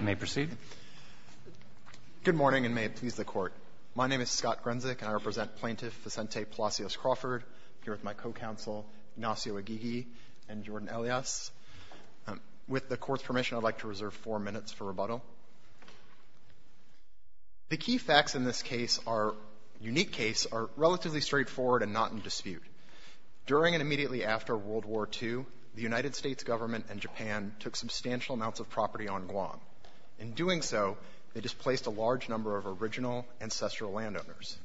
May proceed. Good morning, and may it please the Court. My name is Scott Grenzick, and I represent Plaintiff Vicente Palacios Crawford, here with my co-counsel Ignacio Aguirre and Jordan Elias. With the Court's permission, I'd like to reserve four minutes for rebuttal. The key facts in this case are unique case are relatively straightforward and not in dispute. During and immediately after World War II, the United States government and Japan took substantial amounts of property on Guam. In doing so, they displaced a large number of original ancestral landowners.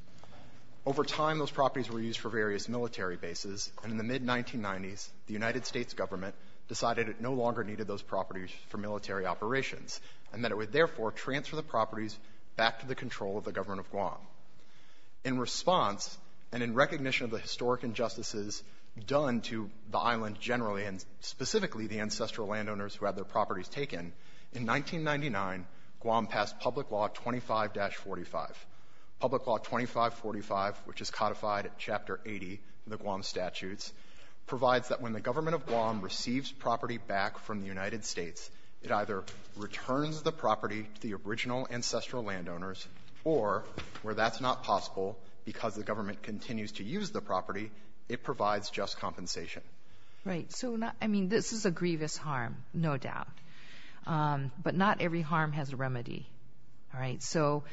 Over time, those properties were used for various military bases, and in the mid-1990s, the United States government decided it no longer needed those properties for military operations and that it would therefore transfer the properties back to the control of the government of Guam. In response, and in recognition of the historic injustices done to the island generally and specifically the ancestral landowners who had their properties taken, in 1999, Guam passed Public Law 25-45. Public Law 2545, which is codified at Chapter 80 in the Guam Statutes, provides that when the government of Guam receives property back from the United States, it either returns the property to the original ancestral landowners or, where that's not possible because the government continues to use the property, it provides just compensation. Right. So, I mean, this is a grievous harm, no doubt. But not every harm has a remedy. All right. So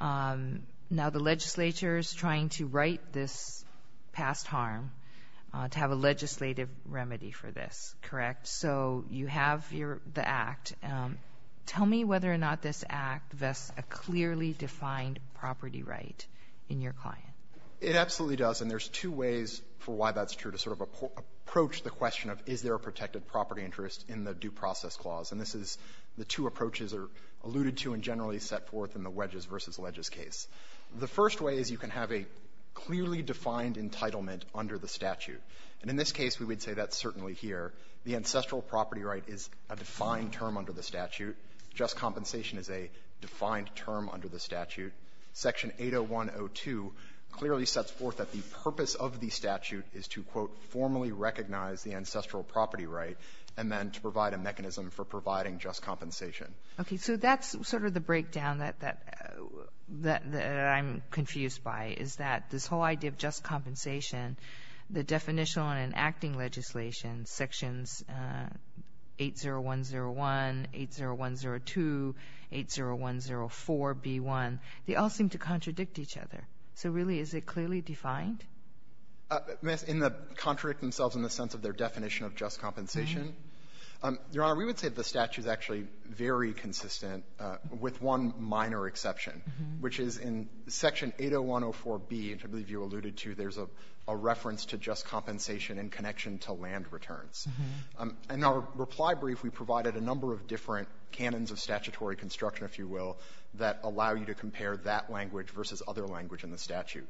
now the legislature is trying to right this past harm to have a legislative remedy for this. Correct? So you have your act. Tell me whether or not this act vests a clearly defined property right in your client. It absolutely does. And there's two ways for why that's true to sort of approach the question of is there a protected property interest in the Due Process Clause. And this is the two approaches that are alluded to and generally set forth in the wedges versus ledges case. The first way is you can have a clearly defined entitlement under the statute. And in this case, we would say that's certainly here. The ancestral property right is a defined term under the statute. Just compensation is a defined term under the statute. Section 801.02 clearly sets forth that the purpose of the statute is to, quote, formally recognize the ancestral property right and then to provide a mechanism for providing just compensation. Okay. So that's sort of the breakdown that that I'm confused by, is that this whole idea of just compensation, the definition on an acting legislation, Sections 801.01, 801.02, 801.04b1, they all seem to contradict each other. So really, is it clearly defined? In the contradict themselves in the sense of their definition of just compensation, Your Honor, we would say the statute is actually very consistent with one minor exception, which is in Section 801.04b, which I believe you alluded to, there's a reference to just compensation in connection to land returns. In our reply brief, we provided a number of different canons of statutory construction, if you will, that allow you to compare that language versus other language in the statute.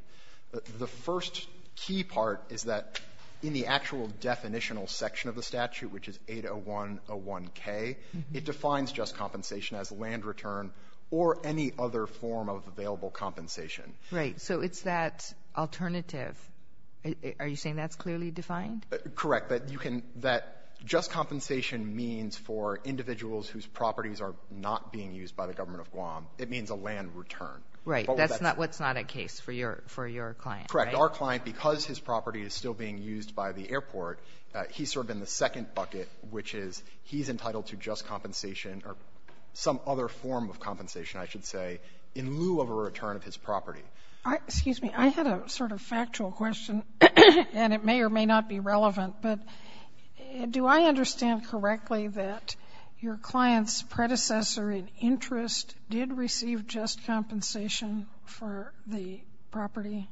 The first key part is that in the actual definitional section of the statute, which is 801.01k, it defines just compensation as land return or any other form of available compensation. Right. So it's that alternative. Are you saying that's clearly defined? Correct. That you can — that just compensation means for individuals whose properties are not being used by the government of Guam, it means a land return. Right. Correct. In our client, because his property is still being used by the airport, he's sort of in the second bucket, which is he's entitled to just compensation or some other form of compensation, I should say, in lieu of a return of his property. Excuse me. I had a sort of factual question, and it may or may not be relevant, but do I understand correctly that your client's predecessor in interest did receive just compensation for the property?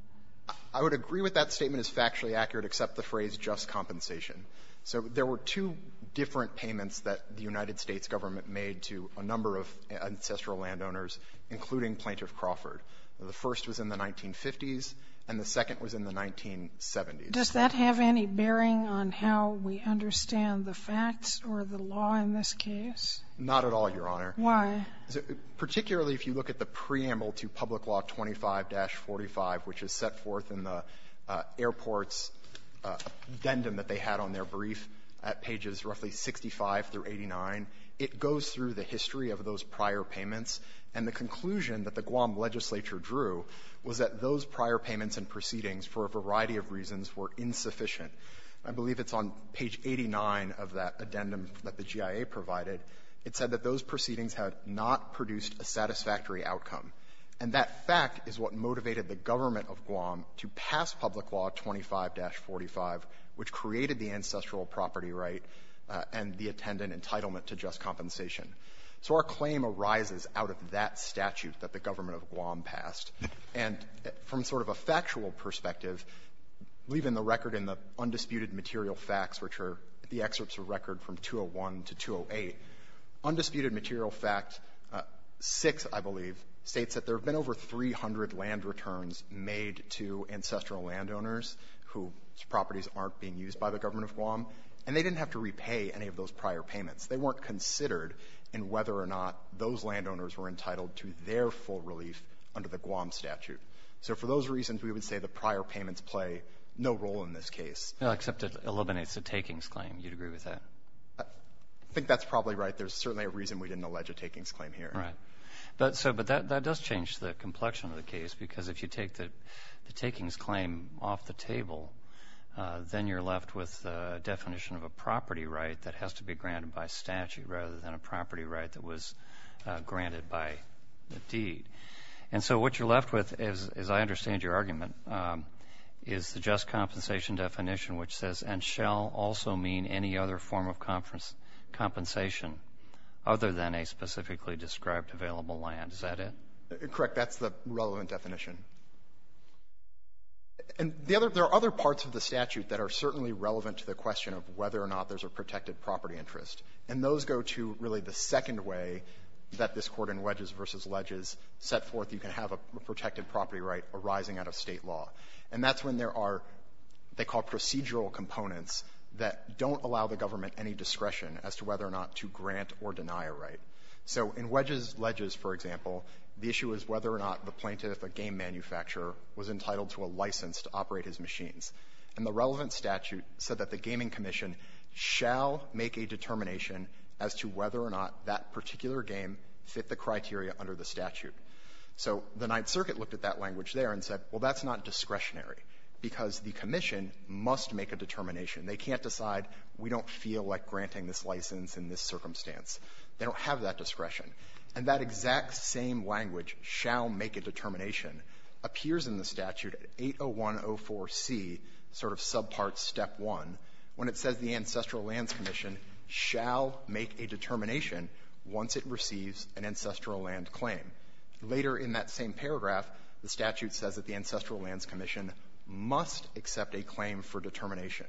I would agree with that statement as factually accurate, except the phrase just compensation. So there were two different payments that the United States government made to a number of ancestral landowners, including Plaintiff Crawford. The first was in the 1950s, and the second was in the 1970s. Does that have any bearing on how we understand the facts or the law in this case? Not at all, Your Honor. Why? Particularly if you look at the preamble to Public Law 25-45, which is set forth in the airport's addendum that they had on their brief at pages roughly 65 through 89, it goes through the history of those prior payments, and the conclusion that the Guam legislature drew was that those prior payments and proceedings for a variety of reasons were insufficient. I believe it's on page 89 of that addendum that the GIA provided. It said that those proceedings had not produced a satisfactory outcome, and that fact is what motivated the government of Guam to pass Public Law 25-45, which created the ancestral property right and the attendant entitlement to just compensation. So our claim arises out of that statute that the government of Guam passed. And from sort of a factual perspective, leaving the record in the undisputed material facts, which are the excerpts of record from 201 to 208, undisputed material fact 6, I believe, states that there have been over 300 land returns made to ancestral landowners whose properties aren't being used by the government of Guam, and they didn't have to repay any of those prior payments. They weren't considered in whether or not those landowners were entitled to their full relief under the Guam statute. So for those reasons, we would say the prior payments play no role in this case. Well, except it eliminates a takings claim. You'd agree with that? I think that's probably right. There's certainly a reason we didn't allege a takings claim here. Right. But so that does change the complexion of the case, because if you take the takings claim off the table, then you're left with the definition of a property right that has to be granted by statute rather than a property right that was granted by the deed. And so what you're left with, as I understand your argument, is the just compensation definition, which says, and shall also mean any other form of compensation other than a specifically described available land. Is that it? Correct. That's the relevant definition. And the other — there are other parts of the statute that are certainly relevant to the question of whether or not there's a protected property interest. And those go to really the second way that this Court in Wedges v. Ledges set forth you can have a protected property right arising out of State law. And that's when there are what they call procedural components that don't allow the government any discretion as to whether or not to grant or deny a right. So in Wedges v. Ledges, for example, the issue is whether or not the plaintiff, a game manufacturer, was entitled to a license to operate his machines. And the relevant part of the statute said that the gaming commission shall make a determination as to whether or not that particular game fit the criteria under the statute. So the Ninth Circuit looked at that language there and said, well, that's not discretionary because the commission must make a determination. They can't decide we don't feel like granting this license in this circumstance. They don't have that discretion. And that exact same language, shall make a determination, appears in the statute at 801.04c, sort of subpart Step 1, when it says the Ancestral Lands Commission shall make a determination once it receives an ancestral land claim. Later in that same paragraph, the statute says that the Ancestral Lands Commission must accept a claim for determination.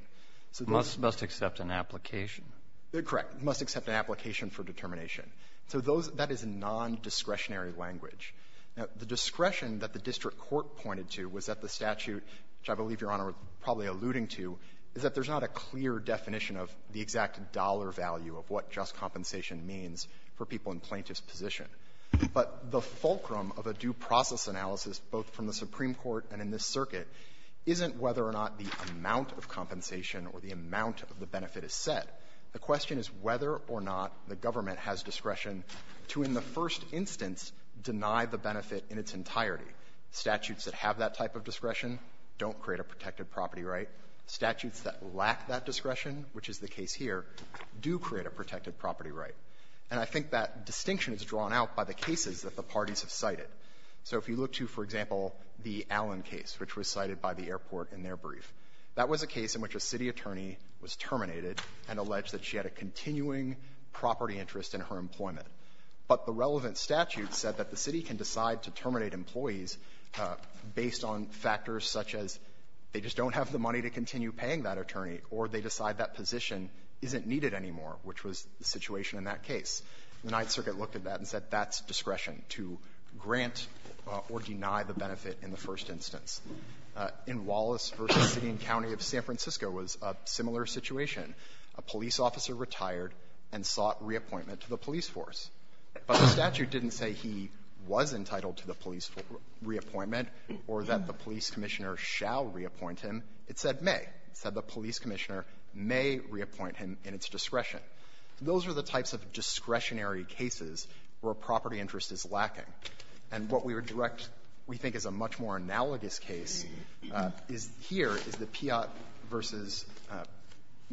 So those ---- Breyer. Must accept an application. Fisher. Correct. Must accept an application for determination. So those ---- that is a nondiscretionary language. Now, the discretion that the district court pointed to was that the statute, which I believe Your Honor is probably alluding to, is that there's not a clear definition of the exact dollar value of what just compensation means for people in plaintiff's position. But the fulcrum of a due process analysis, both from the Supreme Court and in this circuit, isn't whether or not the amount of compensation or the amount of the benefit is set. The question is whether or not the government has discretion to, in the first instance, deny the benefit in its entirety. Statutes that have that type of discretion don't create a protected property right. Statutes that lack that discretion, which is the case here, do create a protected property right. And I think that distinction is drawn out by the cases that the parties have cited. So if you look to, for example, the Allen case, which was cited by the airport in their brief, that was a case in which a city attorney was terminated and alleged that she had a continuing property interest in her employment. But the relevant statute said that the city can decide to terminate employees based on factors such as they just don't have the money to continue paying that attorney, or they decide that position isn't needed anymore, which was the situation in that case. The Ninth Circuit looked at that and said that's discretion to grant or deny the benefit in the first instance. In Wallace v. City and County of San Francisco, there was a similar situation. A police officer retired and sought reappointment to the police force. But the statute didn't say he was entitled to the police reappointment or that the police commissioner shall reappoint him. It said may. It said the police commissioner may reappoint him in its discretion. Those are the types of discretionary cases where a property interest is lacking. And what we would direct, we think, is a much more analogous case, is here is the Piott v.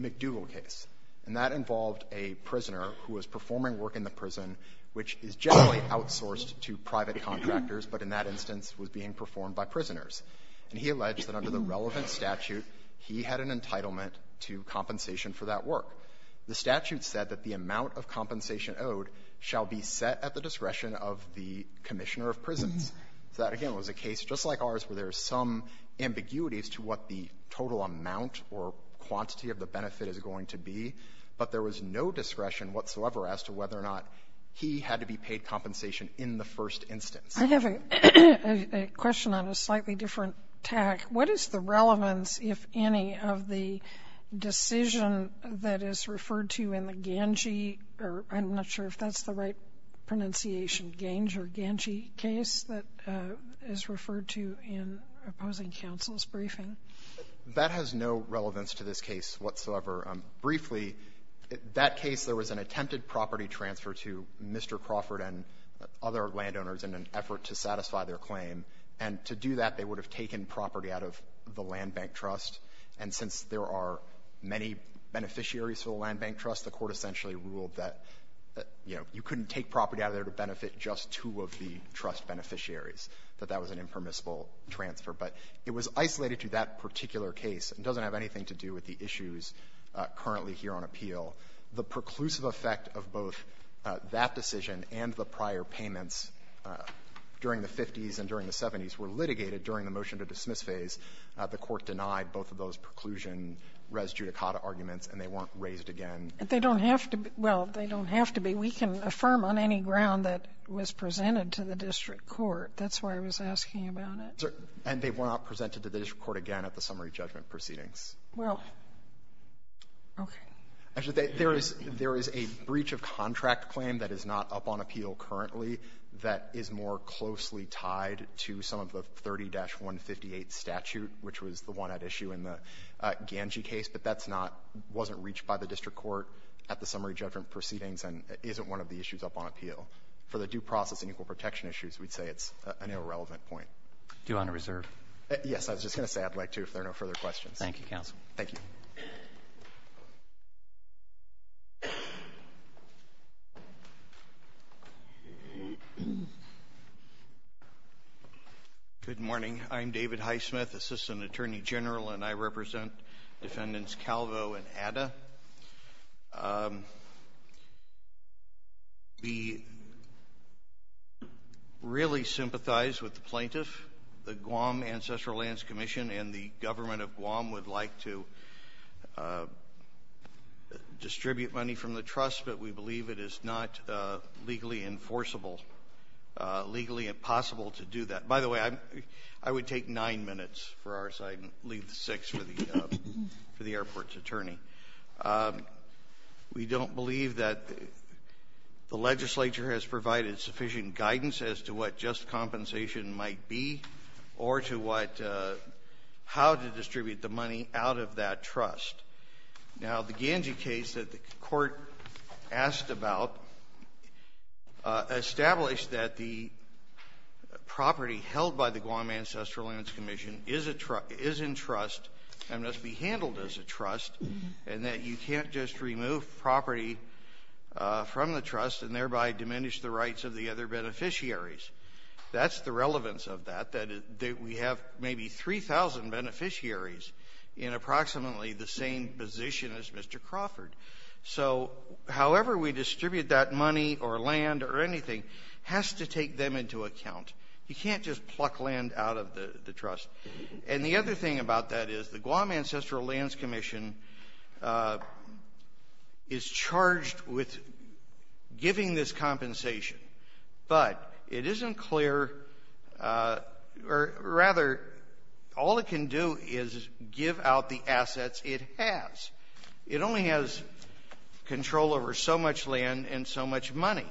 McDougall case. And that involved a prisoner who was performing work in the prison, which is generally outsourced to private contractors, but in that instance was being performed by prisoners. And he alleged that under the relevant statute, he had an entitlement to compensation for that work. The statute said that the amount of compensation owed shall be set at the discretion of the commissioner of prisons. So that, again, was a case, just like ours, where there's some ambiguity as to what the total amount or quantity of the benefit is going to be. But there was no discretion whatsoever as to whether or not he had to be paid compensation in the first instance. Sotomayor, I have a question on a slightly different tack. What is the relevance, if any, of the decision that is referred to in the Gange or I'm not sure if that's the right pronunciation, Gange or Gange case, that is referred to in opposing counsel's briefing? That has no relevance to this case whatsoever. Briefly, that case, there was an attempted property transfer to Mr. Crawford and other landowners in an effort to satisfy their claim. And to do that, they would have taken property out of the land bank trust. And since there are many beneficiaries to the land bank trust, the Court essentially ruled that, you know, you couldn't take property out of there to benefit just two of the trust beneficiaries, that that was an impermissible transfer. But it was isolated to that particular case. It doesn't have anything to do with the issues currently here on appeal. The preclusive effect of both that decision and the prior payments during the 50s and during the 70s were litigated during the motion-to-dismiss phase. The Court denied both of those preclusion res judicata arguments, and they weren't raised again. They don't have to be. Well, they don't have to be. We can affirm on any ground that was presented to the district court. That's why I was asking about it. And they were not presented to the district court again at the summary judgment proceedings. Well, okay. Actually, there is a breach-of-contract claim that is not up on appeal currently that is more closely tied to some of the 30-158 statute, which was the one at issue in the Ganji case. But that's not — wasn't reached by the district court at the summary judgment proceedings and isn't one of the issues up on appeal. For the due process and equal protection issues, we'd say it's an irrelevant point. Do you want to reserve? Yes. I was just going to say I'd like to if there are no further questions. Thank you, counsel. Thank you. Good morning. I'm David Highsmith, assistant attorney general, and I represent defendants Calvo and Adda. We really sympathize with the plaintiff. The Guam Ancestral Lands Commission and the government of Guam would like to distribute money from the trust, but we believe it is not legally enforceable, legally possible to do that. By the way, I would take nine minutes for our side and leave the six for the airport's attorney. We don't believe that the legislature has provided sufficient guidance as to what might be or to what — how to distribute the money out of that trust. Now, the Ganji case that the court asked about established that the property held by the Guam Ancestral Lands Commission is a — is in trust and must be handled as a trust, and that you can't just remove property from the trust and thereby diminish the rights of the other beneficiaries. That's the relevance of that, that we have maybe 3,000 beneficiaries in approximately the same position as Mr. Crawford. So however we distribute that money or land or anything has to take them into account. You can't just pluck land out of the trust. And the other thing about that is the Guam Ancestral Lands Commission is charged with giving this compensation, but it isn't clear — or, rather, all it can do is give out the assets it has. It only has control over so much land and so much money.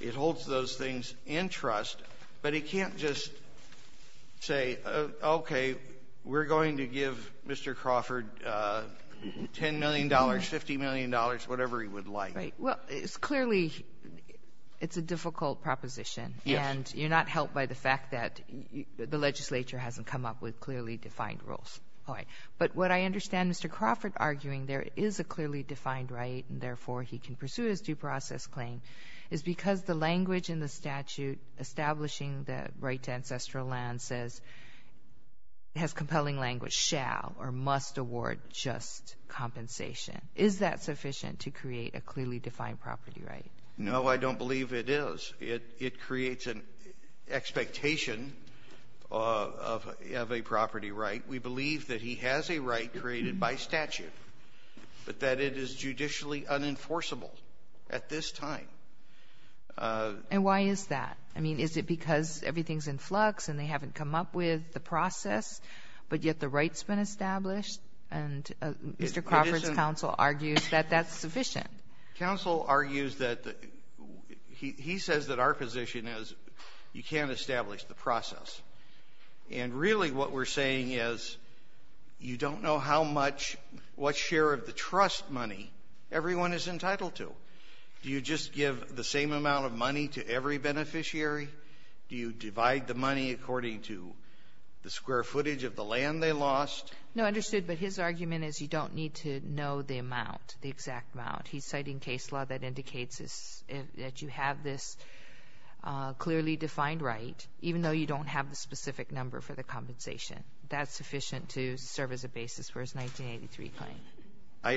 It holds those things in $10 million, $50 million, whatever he would like. Right. Well, it's clearly — it's a difficult proposition. Yes. And you're not helped by the fact that the legislature hasn't come up with clearly defined rules. All right. But what I understand Mr. Crawford arguing there is a clearly defined right, and therefore he can pursue his due process claim, is because the language in the statute establishing the right to ancestral land says — has compelling language — shall or must award just compensation. Is that sufficient to create a clearly defined property right? No, I don't believe it is. It creates an expectation of a property right. We believe that he has a right created by statute, but that it is judicially unenforceable at this time. And why is that? I mean, is it because everything's in flux and they haven't come up with the process, but yet the right's been established? And Mr. Crawford's counsel argues that that's sufficient. Counsel argues that — he says that our position is you can't establish the process. And really what we're saying is you don't know how much — what share of the trust money everyone is entitled to. Do you just give the same amount of money to every beneficiary? Do you divide the money into the square footage of the land they lost? No, understood. But his argument is you don't need to know the amount, the exact amount. He's citing case law that indicates that you have this clearly defined right, even though you don't have the specific number for the compensation. That's sufficient to serve as a basis for his 1983 claim.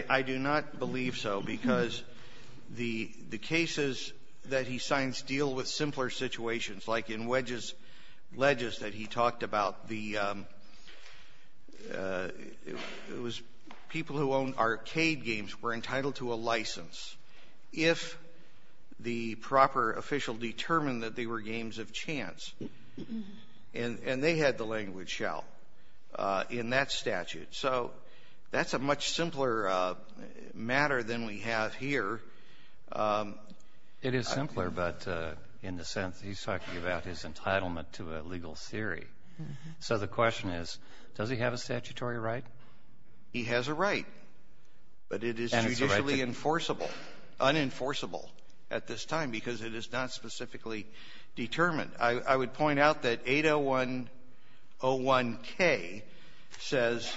I do not believe so, because the cases that he signs deal with simpler situations. Like in Wedges — Ledges that he talked about, the — it was people who owned arcade games were entitled to a license if the proper official determined that they were games of chance. And they had the language, shall, in that statute. So that's a much simpler matter than we have here. It is simpler, but in the sense he's talking about his entitlement to a legal theory. So the question is, does he have a statutory right? He has a right. But it is judicially enforceable, unenforceable at this time, because it is not specifically determined. I would point out that 80101K says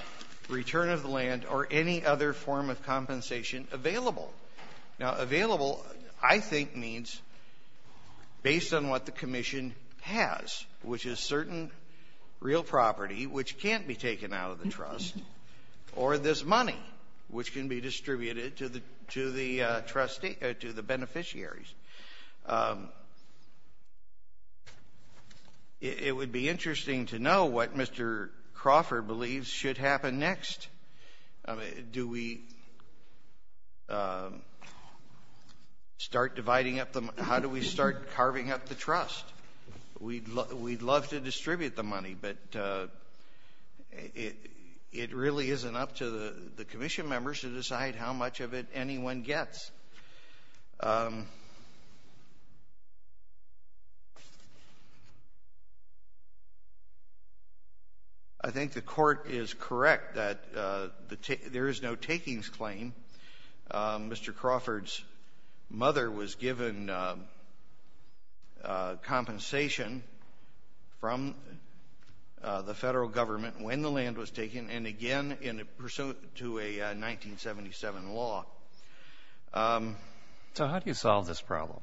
return of the land or any other form of compensation available. Now, available, I think, means based on what the commission has, which is certain real property which can't be taken out of the trust, or this money which can be distributed to the — to the trustee — to the beneficiaries. It would be interesting to know what Mr. Crawford believes should happen next. I mean, do we start dividing up the — how do we start carving up the trust? We'd love to distribute the money, but it really isn't up to the commission members to decide how much of it anyone gets. I think the Court is correct that there is no takings claim. Mr. Crawford's mother was given compensation from the Federal government when the land was taken, and again in pursuant to a 1977 law. So how do you solve this problem?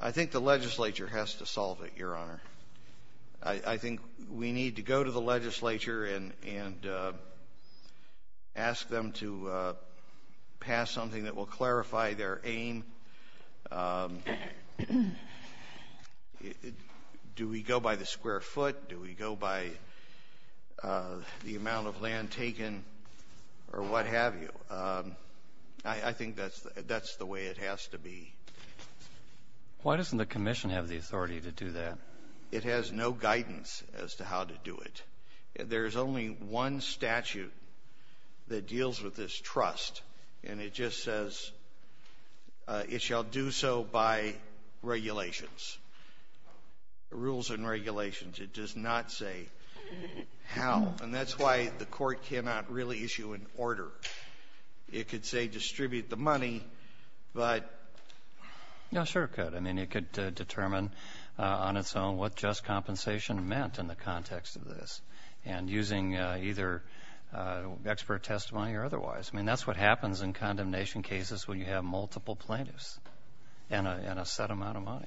I think the legislature has to solve it, Your Honor. I think we need to go to the legislature and ask them to pass something that will clarify their aim. Do we go by the square foot? Do we go by the amount of land taken, or what have you? I think that's the way it has to be. Why doesn't the commission have the authority to do that? It has no guidance as to how to do it. There's only one statute that deals with this trust, and it just says it shall do so by regulations. Rules and regulations. It does not say how, and that's why the Court cannot really issue an order. It could say distribute the money, but... Yeah, sure it could. I mean, it could determine on its own what just compensation meant in the context of this and using either expert testimony or otherwise. I mean, that's what happens in condemnation cases when you have multiple plaintiffs and a set amount of money.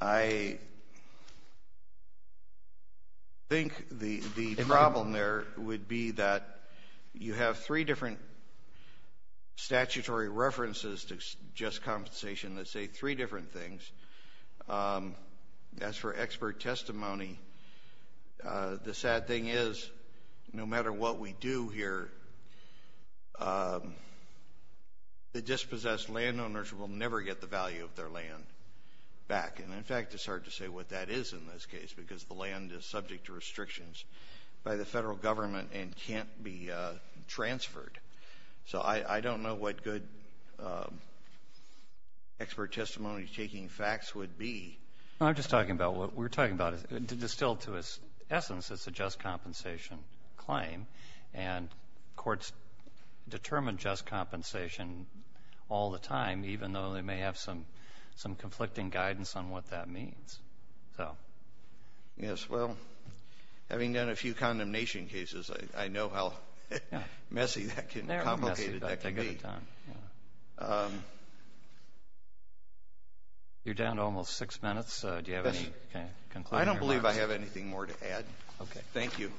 I think the problem there would be that you have three different statutory references to just compensation that say three different things. As for expert testimony, the sad thing is, no matter what we do here, the dispossessed landowners will never get the value of their land back. And in fact, it's hard to say what that is in this case, because the land is subject to restrictions by the federal government and can't be transferred. So I don't know what good expert testimony-taking facts would be. No, I'm just talking about what we're talking about, distilled to its essence, it's a just compensation all the time, even though they may have some conflicting guidance on what that means. Yes, well, having done a few condemnation cases, I know how messy that can be. They're messy, but they get it done. You're down to almost six minutes. Do you have any concluding remarks? I don't believe I have anything more to add. Thank you.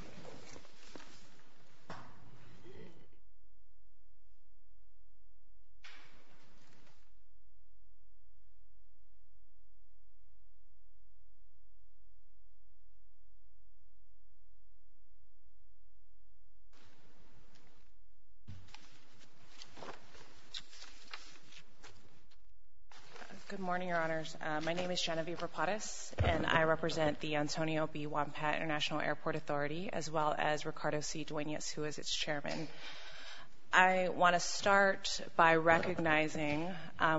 Good morning, Your Honors. My name is Genevieve Rapadas, and I represent the Antonio B. Wompat International Airport Authority, as well as Ricardo C. Duenas, who is its chairman. I want to start by recognizing,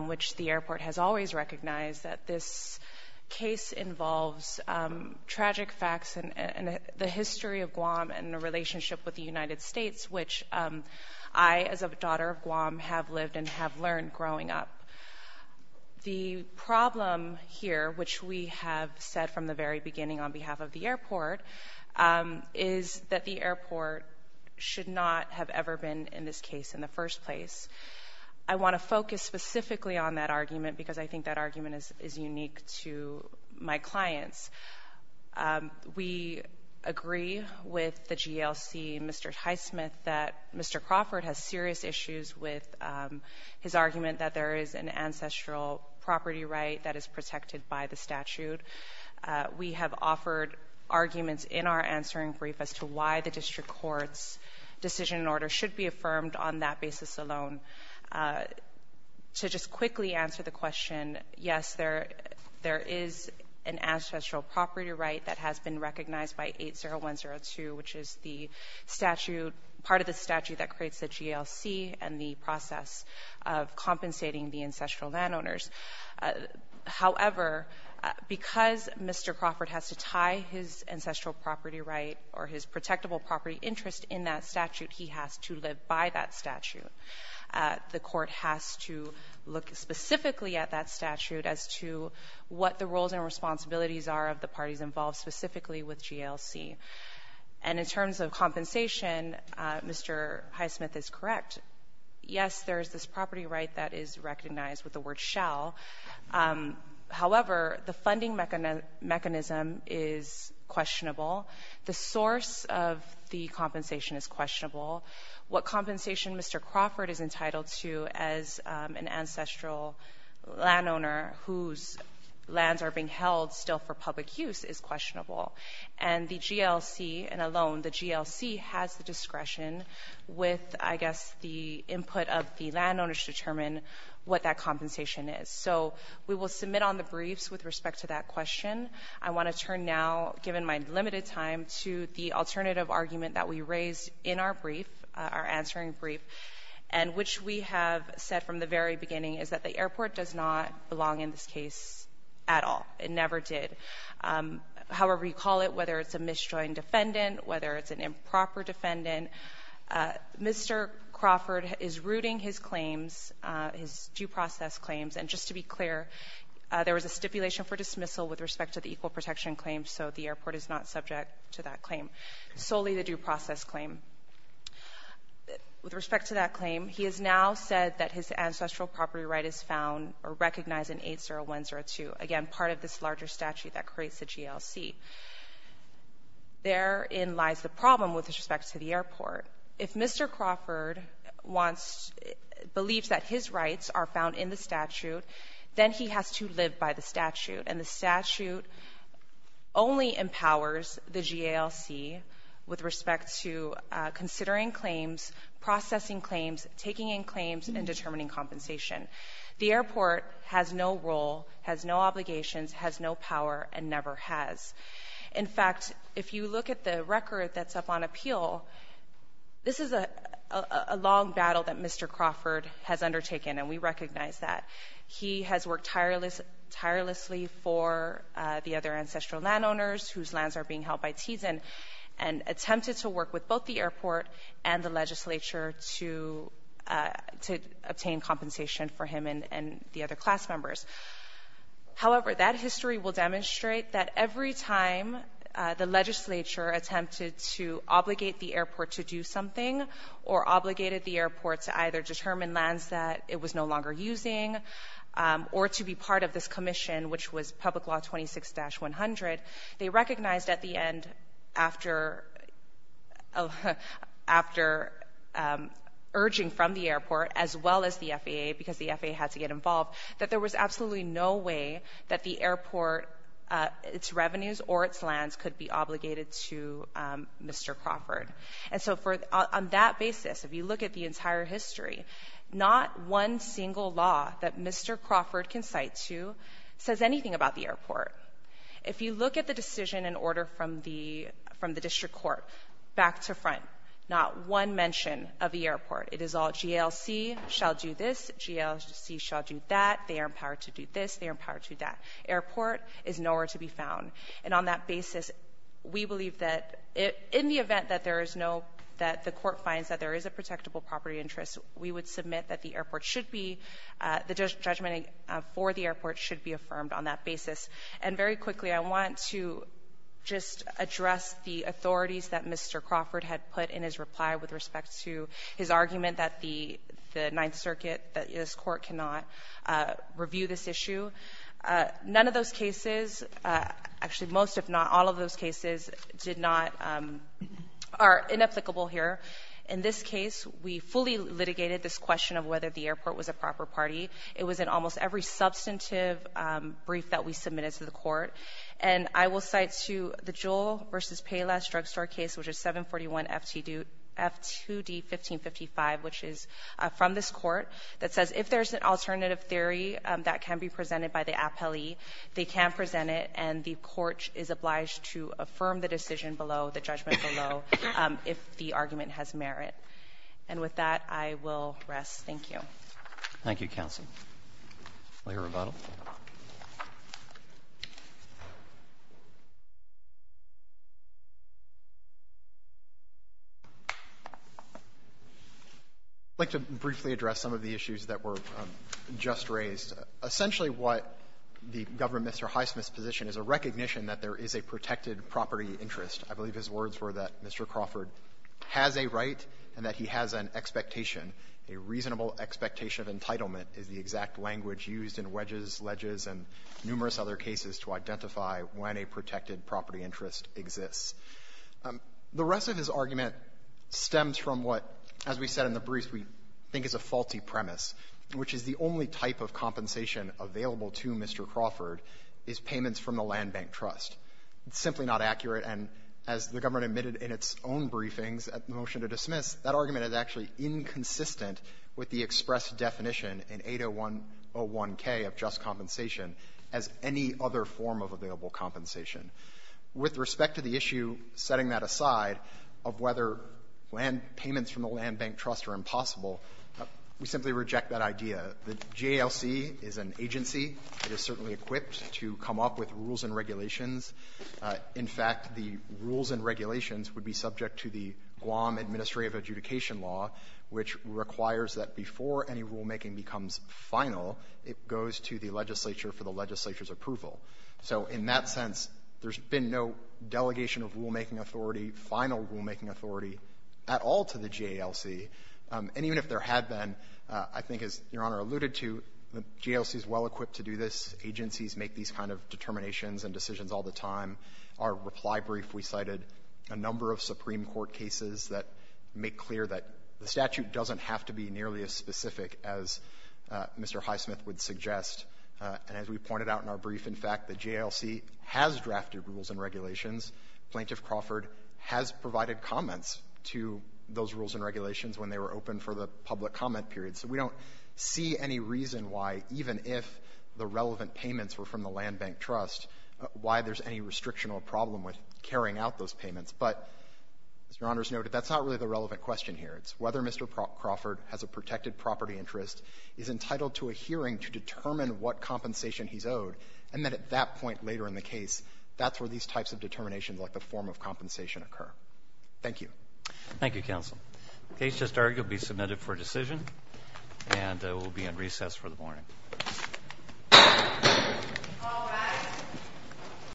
which the airport has always recognized, that this case involves tragic facts and the history of Guam and the relationship with the United States, which I, as a daughter of Guam, have lived and have learned growing up. The problem here, which we have said from the very beginning on behalf of the airport, is that the airport should not have ever been in this case in the first place. I want to focus specifically on that argument because I think that argument is unique to my clients. We agree with the GLC, Mr. Highsmith, that Mr. Crawford has serious issues with his argument that there is an ancestral property right that is protected by the statute. We have offered arguments in our answering brief as to why the district court's decision and order should be affirmed on that basis alone. To just quickly answer the question, yes, there is an ancestral property right that has been recognized by 80102, which is the statute, part of the statute that creates the GLC and the process of compensating the ancestral landowners. However, because Mr. Crawford has to tie his ancestral property right or his protectable property interest in that statute, he has to live by that statute. The court has to look specifically at that statute as to what the roles and responsibilities are of the parties involved specifically with GLC. And in terms of compensation, Mr. Highsmith is correct. Yes, there is this property right that is recognized with the word shall. However, the funding mechanism is questionable. The source of the compensation is questionable. What compensation Mr. Crawford is entitled to as an ancestral landowner whose lands are being held still for public use is questionable. And the GLC, and alone, the GLC has the discretion with, I guess, the input of the landowners to determine what that compensation is. So we will submit on the briefs with respect to that question. I want to turn now, given my limited time, to the alternative argument that we raised in our brief, our answering brief, and which we have said from the very beginning is that the airport does not belong in this case at all. It never did. However you call it, whether it's a misjoined defendant, whether it's an improper defendant, Mr. Crawford is rooting his claims, his due process claims, and just to be clear, there was a stipulation for dismissal with respect to the equal protection claim, so the airport is not subject to that claim, solely the due process claim. With respect to that claim, he has now said that his ancestral property right is found or recognized in 80102, again, part of this larger statute that creates the GLC. Therein lies the problem with respect to the airport. If Mr. Crawford wants, believes that his rights are found in the statute, then he has to live by the statute, and the statute only empowers the GALC with respect to considering claims, processing claims, taking in claims, and determining compensation. The airport has no role, has no obligations, has no power, and never has. In fact, if you look at the record that's up on appeal, this is a long battle that Mr. Crawford has undertaken, and we recognize that. He has worked tirelessly for the other ancestral landowners whose lands are being held by Tizen, and attempted to work with both the airport and the legislature to obtain compensation for him and the other class members. However, that history will demonstrate that every time the legislature attempted to obligate the airport to do something or obligated the airport to either determine lands that it was no longer using or to be part of this commission, which was Public Law 26-100, they recognized at the end after urging from the airport as well as the FAA, because the FAA had to get involved, that there was absolutely no way that the airport, its revenues or its lands could be obligated to Mr. Crawford. And so on that basis, if you look at the entire history, not one single law that Mr. Crawford can cite to says anything about the airport. If you look at the decision in order from the district court, back to front, not one mention of the airport. It is all, GLC shall do this, GLC shall do that, they are empowered to do this, they are empowered to do that. Airport is nowhere to be found. And on that basis, we believe that in the event that there is no, that the court finds that there is a protectable property interest, we would submit that the airport should be, the judgment for the airport should be affirmed on that basis. And very quickly, I want to just address the authorities that Mr. Crawford had put in his reply with respect to his argument that the Ninth Circuit, that this court cannot review this issue. None of those cases, actually most if not all of those cases did not, are inapplicable here. In this case, we fully litigated this question of whether the airport was a proper party. It was in almost every substantive brief that we submitted to the court. And I will cite to the Jewell v. Payless drugstore case, which is 741 F2D-1555, which is from this court, that says if there is an alternative theory that can be presented by the appellee, they can present it, and the court is obliged to affirm the decision below, the judgment below, if the argument has merit. And with that, I will rest. Thank you. Roberts. Thank you, counsel. Layer of rebuttal. I'd like to briefly address some of the issues that were just raised. Essentially what the government, Mr. Highsmith's position is a recognition that there is a protected property interest. I believe his words were that Mr. Crawford has a right and that he has an expectation. A reasonable expectation of entitlement is the exact language used in wedges, ledges, and numerous other cases to identify when a protected property interest exists. The rest of his argument stems from what, as we said in the brief, we think is a faulty premise, which is the only type of compensation available to Mr. Crawford is payments from the land bank trust. It's simply not accurate, and as the government admitted in its own briefings at the motion to dismiss, that argument is actually inconsistent with the express definition in 801k of just compensation as any other form of available compensation. With respect to the issue, setting that aside, of whether land payments from the land bank trust are impossible, we simply reject that idea. The JLC is an agency. It is certainly equipped to come up with rules and regulations. In fact, the rules and regulations would be subject to the Guam administrative adjudication law, which requires that before any rulemaking becomes final, it goes to the legislature for the legislature's approval. So in that sense, there's been no delegation of rulemaking authority, final rulemaking authority at all to the JLC. And even if there had been, I think as Your Honor alluded to, the JLC is well equipped to do this. Agencies make these kind of determinations and decisions all the time. Our reply brief, we cited a number of Supreme Court cases that make clear that the statute doesn't have to be nearly as specific as Mr. Highsmith would suggest. And as we pointed out in our brief, in fact, the JLC has drafted rules and regulations. Plaintiff Crawford has provided comments to those rules and regulations when they were open for the public comment period. So we don't see any reason why, even if the relevant payments were from the land bank trust, why there's any restriction or problem with carrying out those payments. But as Your Honor has noted, that's not really the relevant question here. It's whether Mr. Crawford has a protected property interest, is entitled to a hearing to determine what compensation he's owed, and that at that point later in the case, that's where these types of determinations like the form of compensation occur. Thank you. Roberts. Thank you, counsel. The case just argued will be submitted for decision. And it will be on recess for the morning.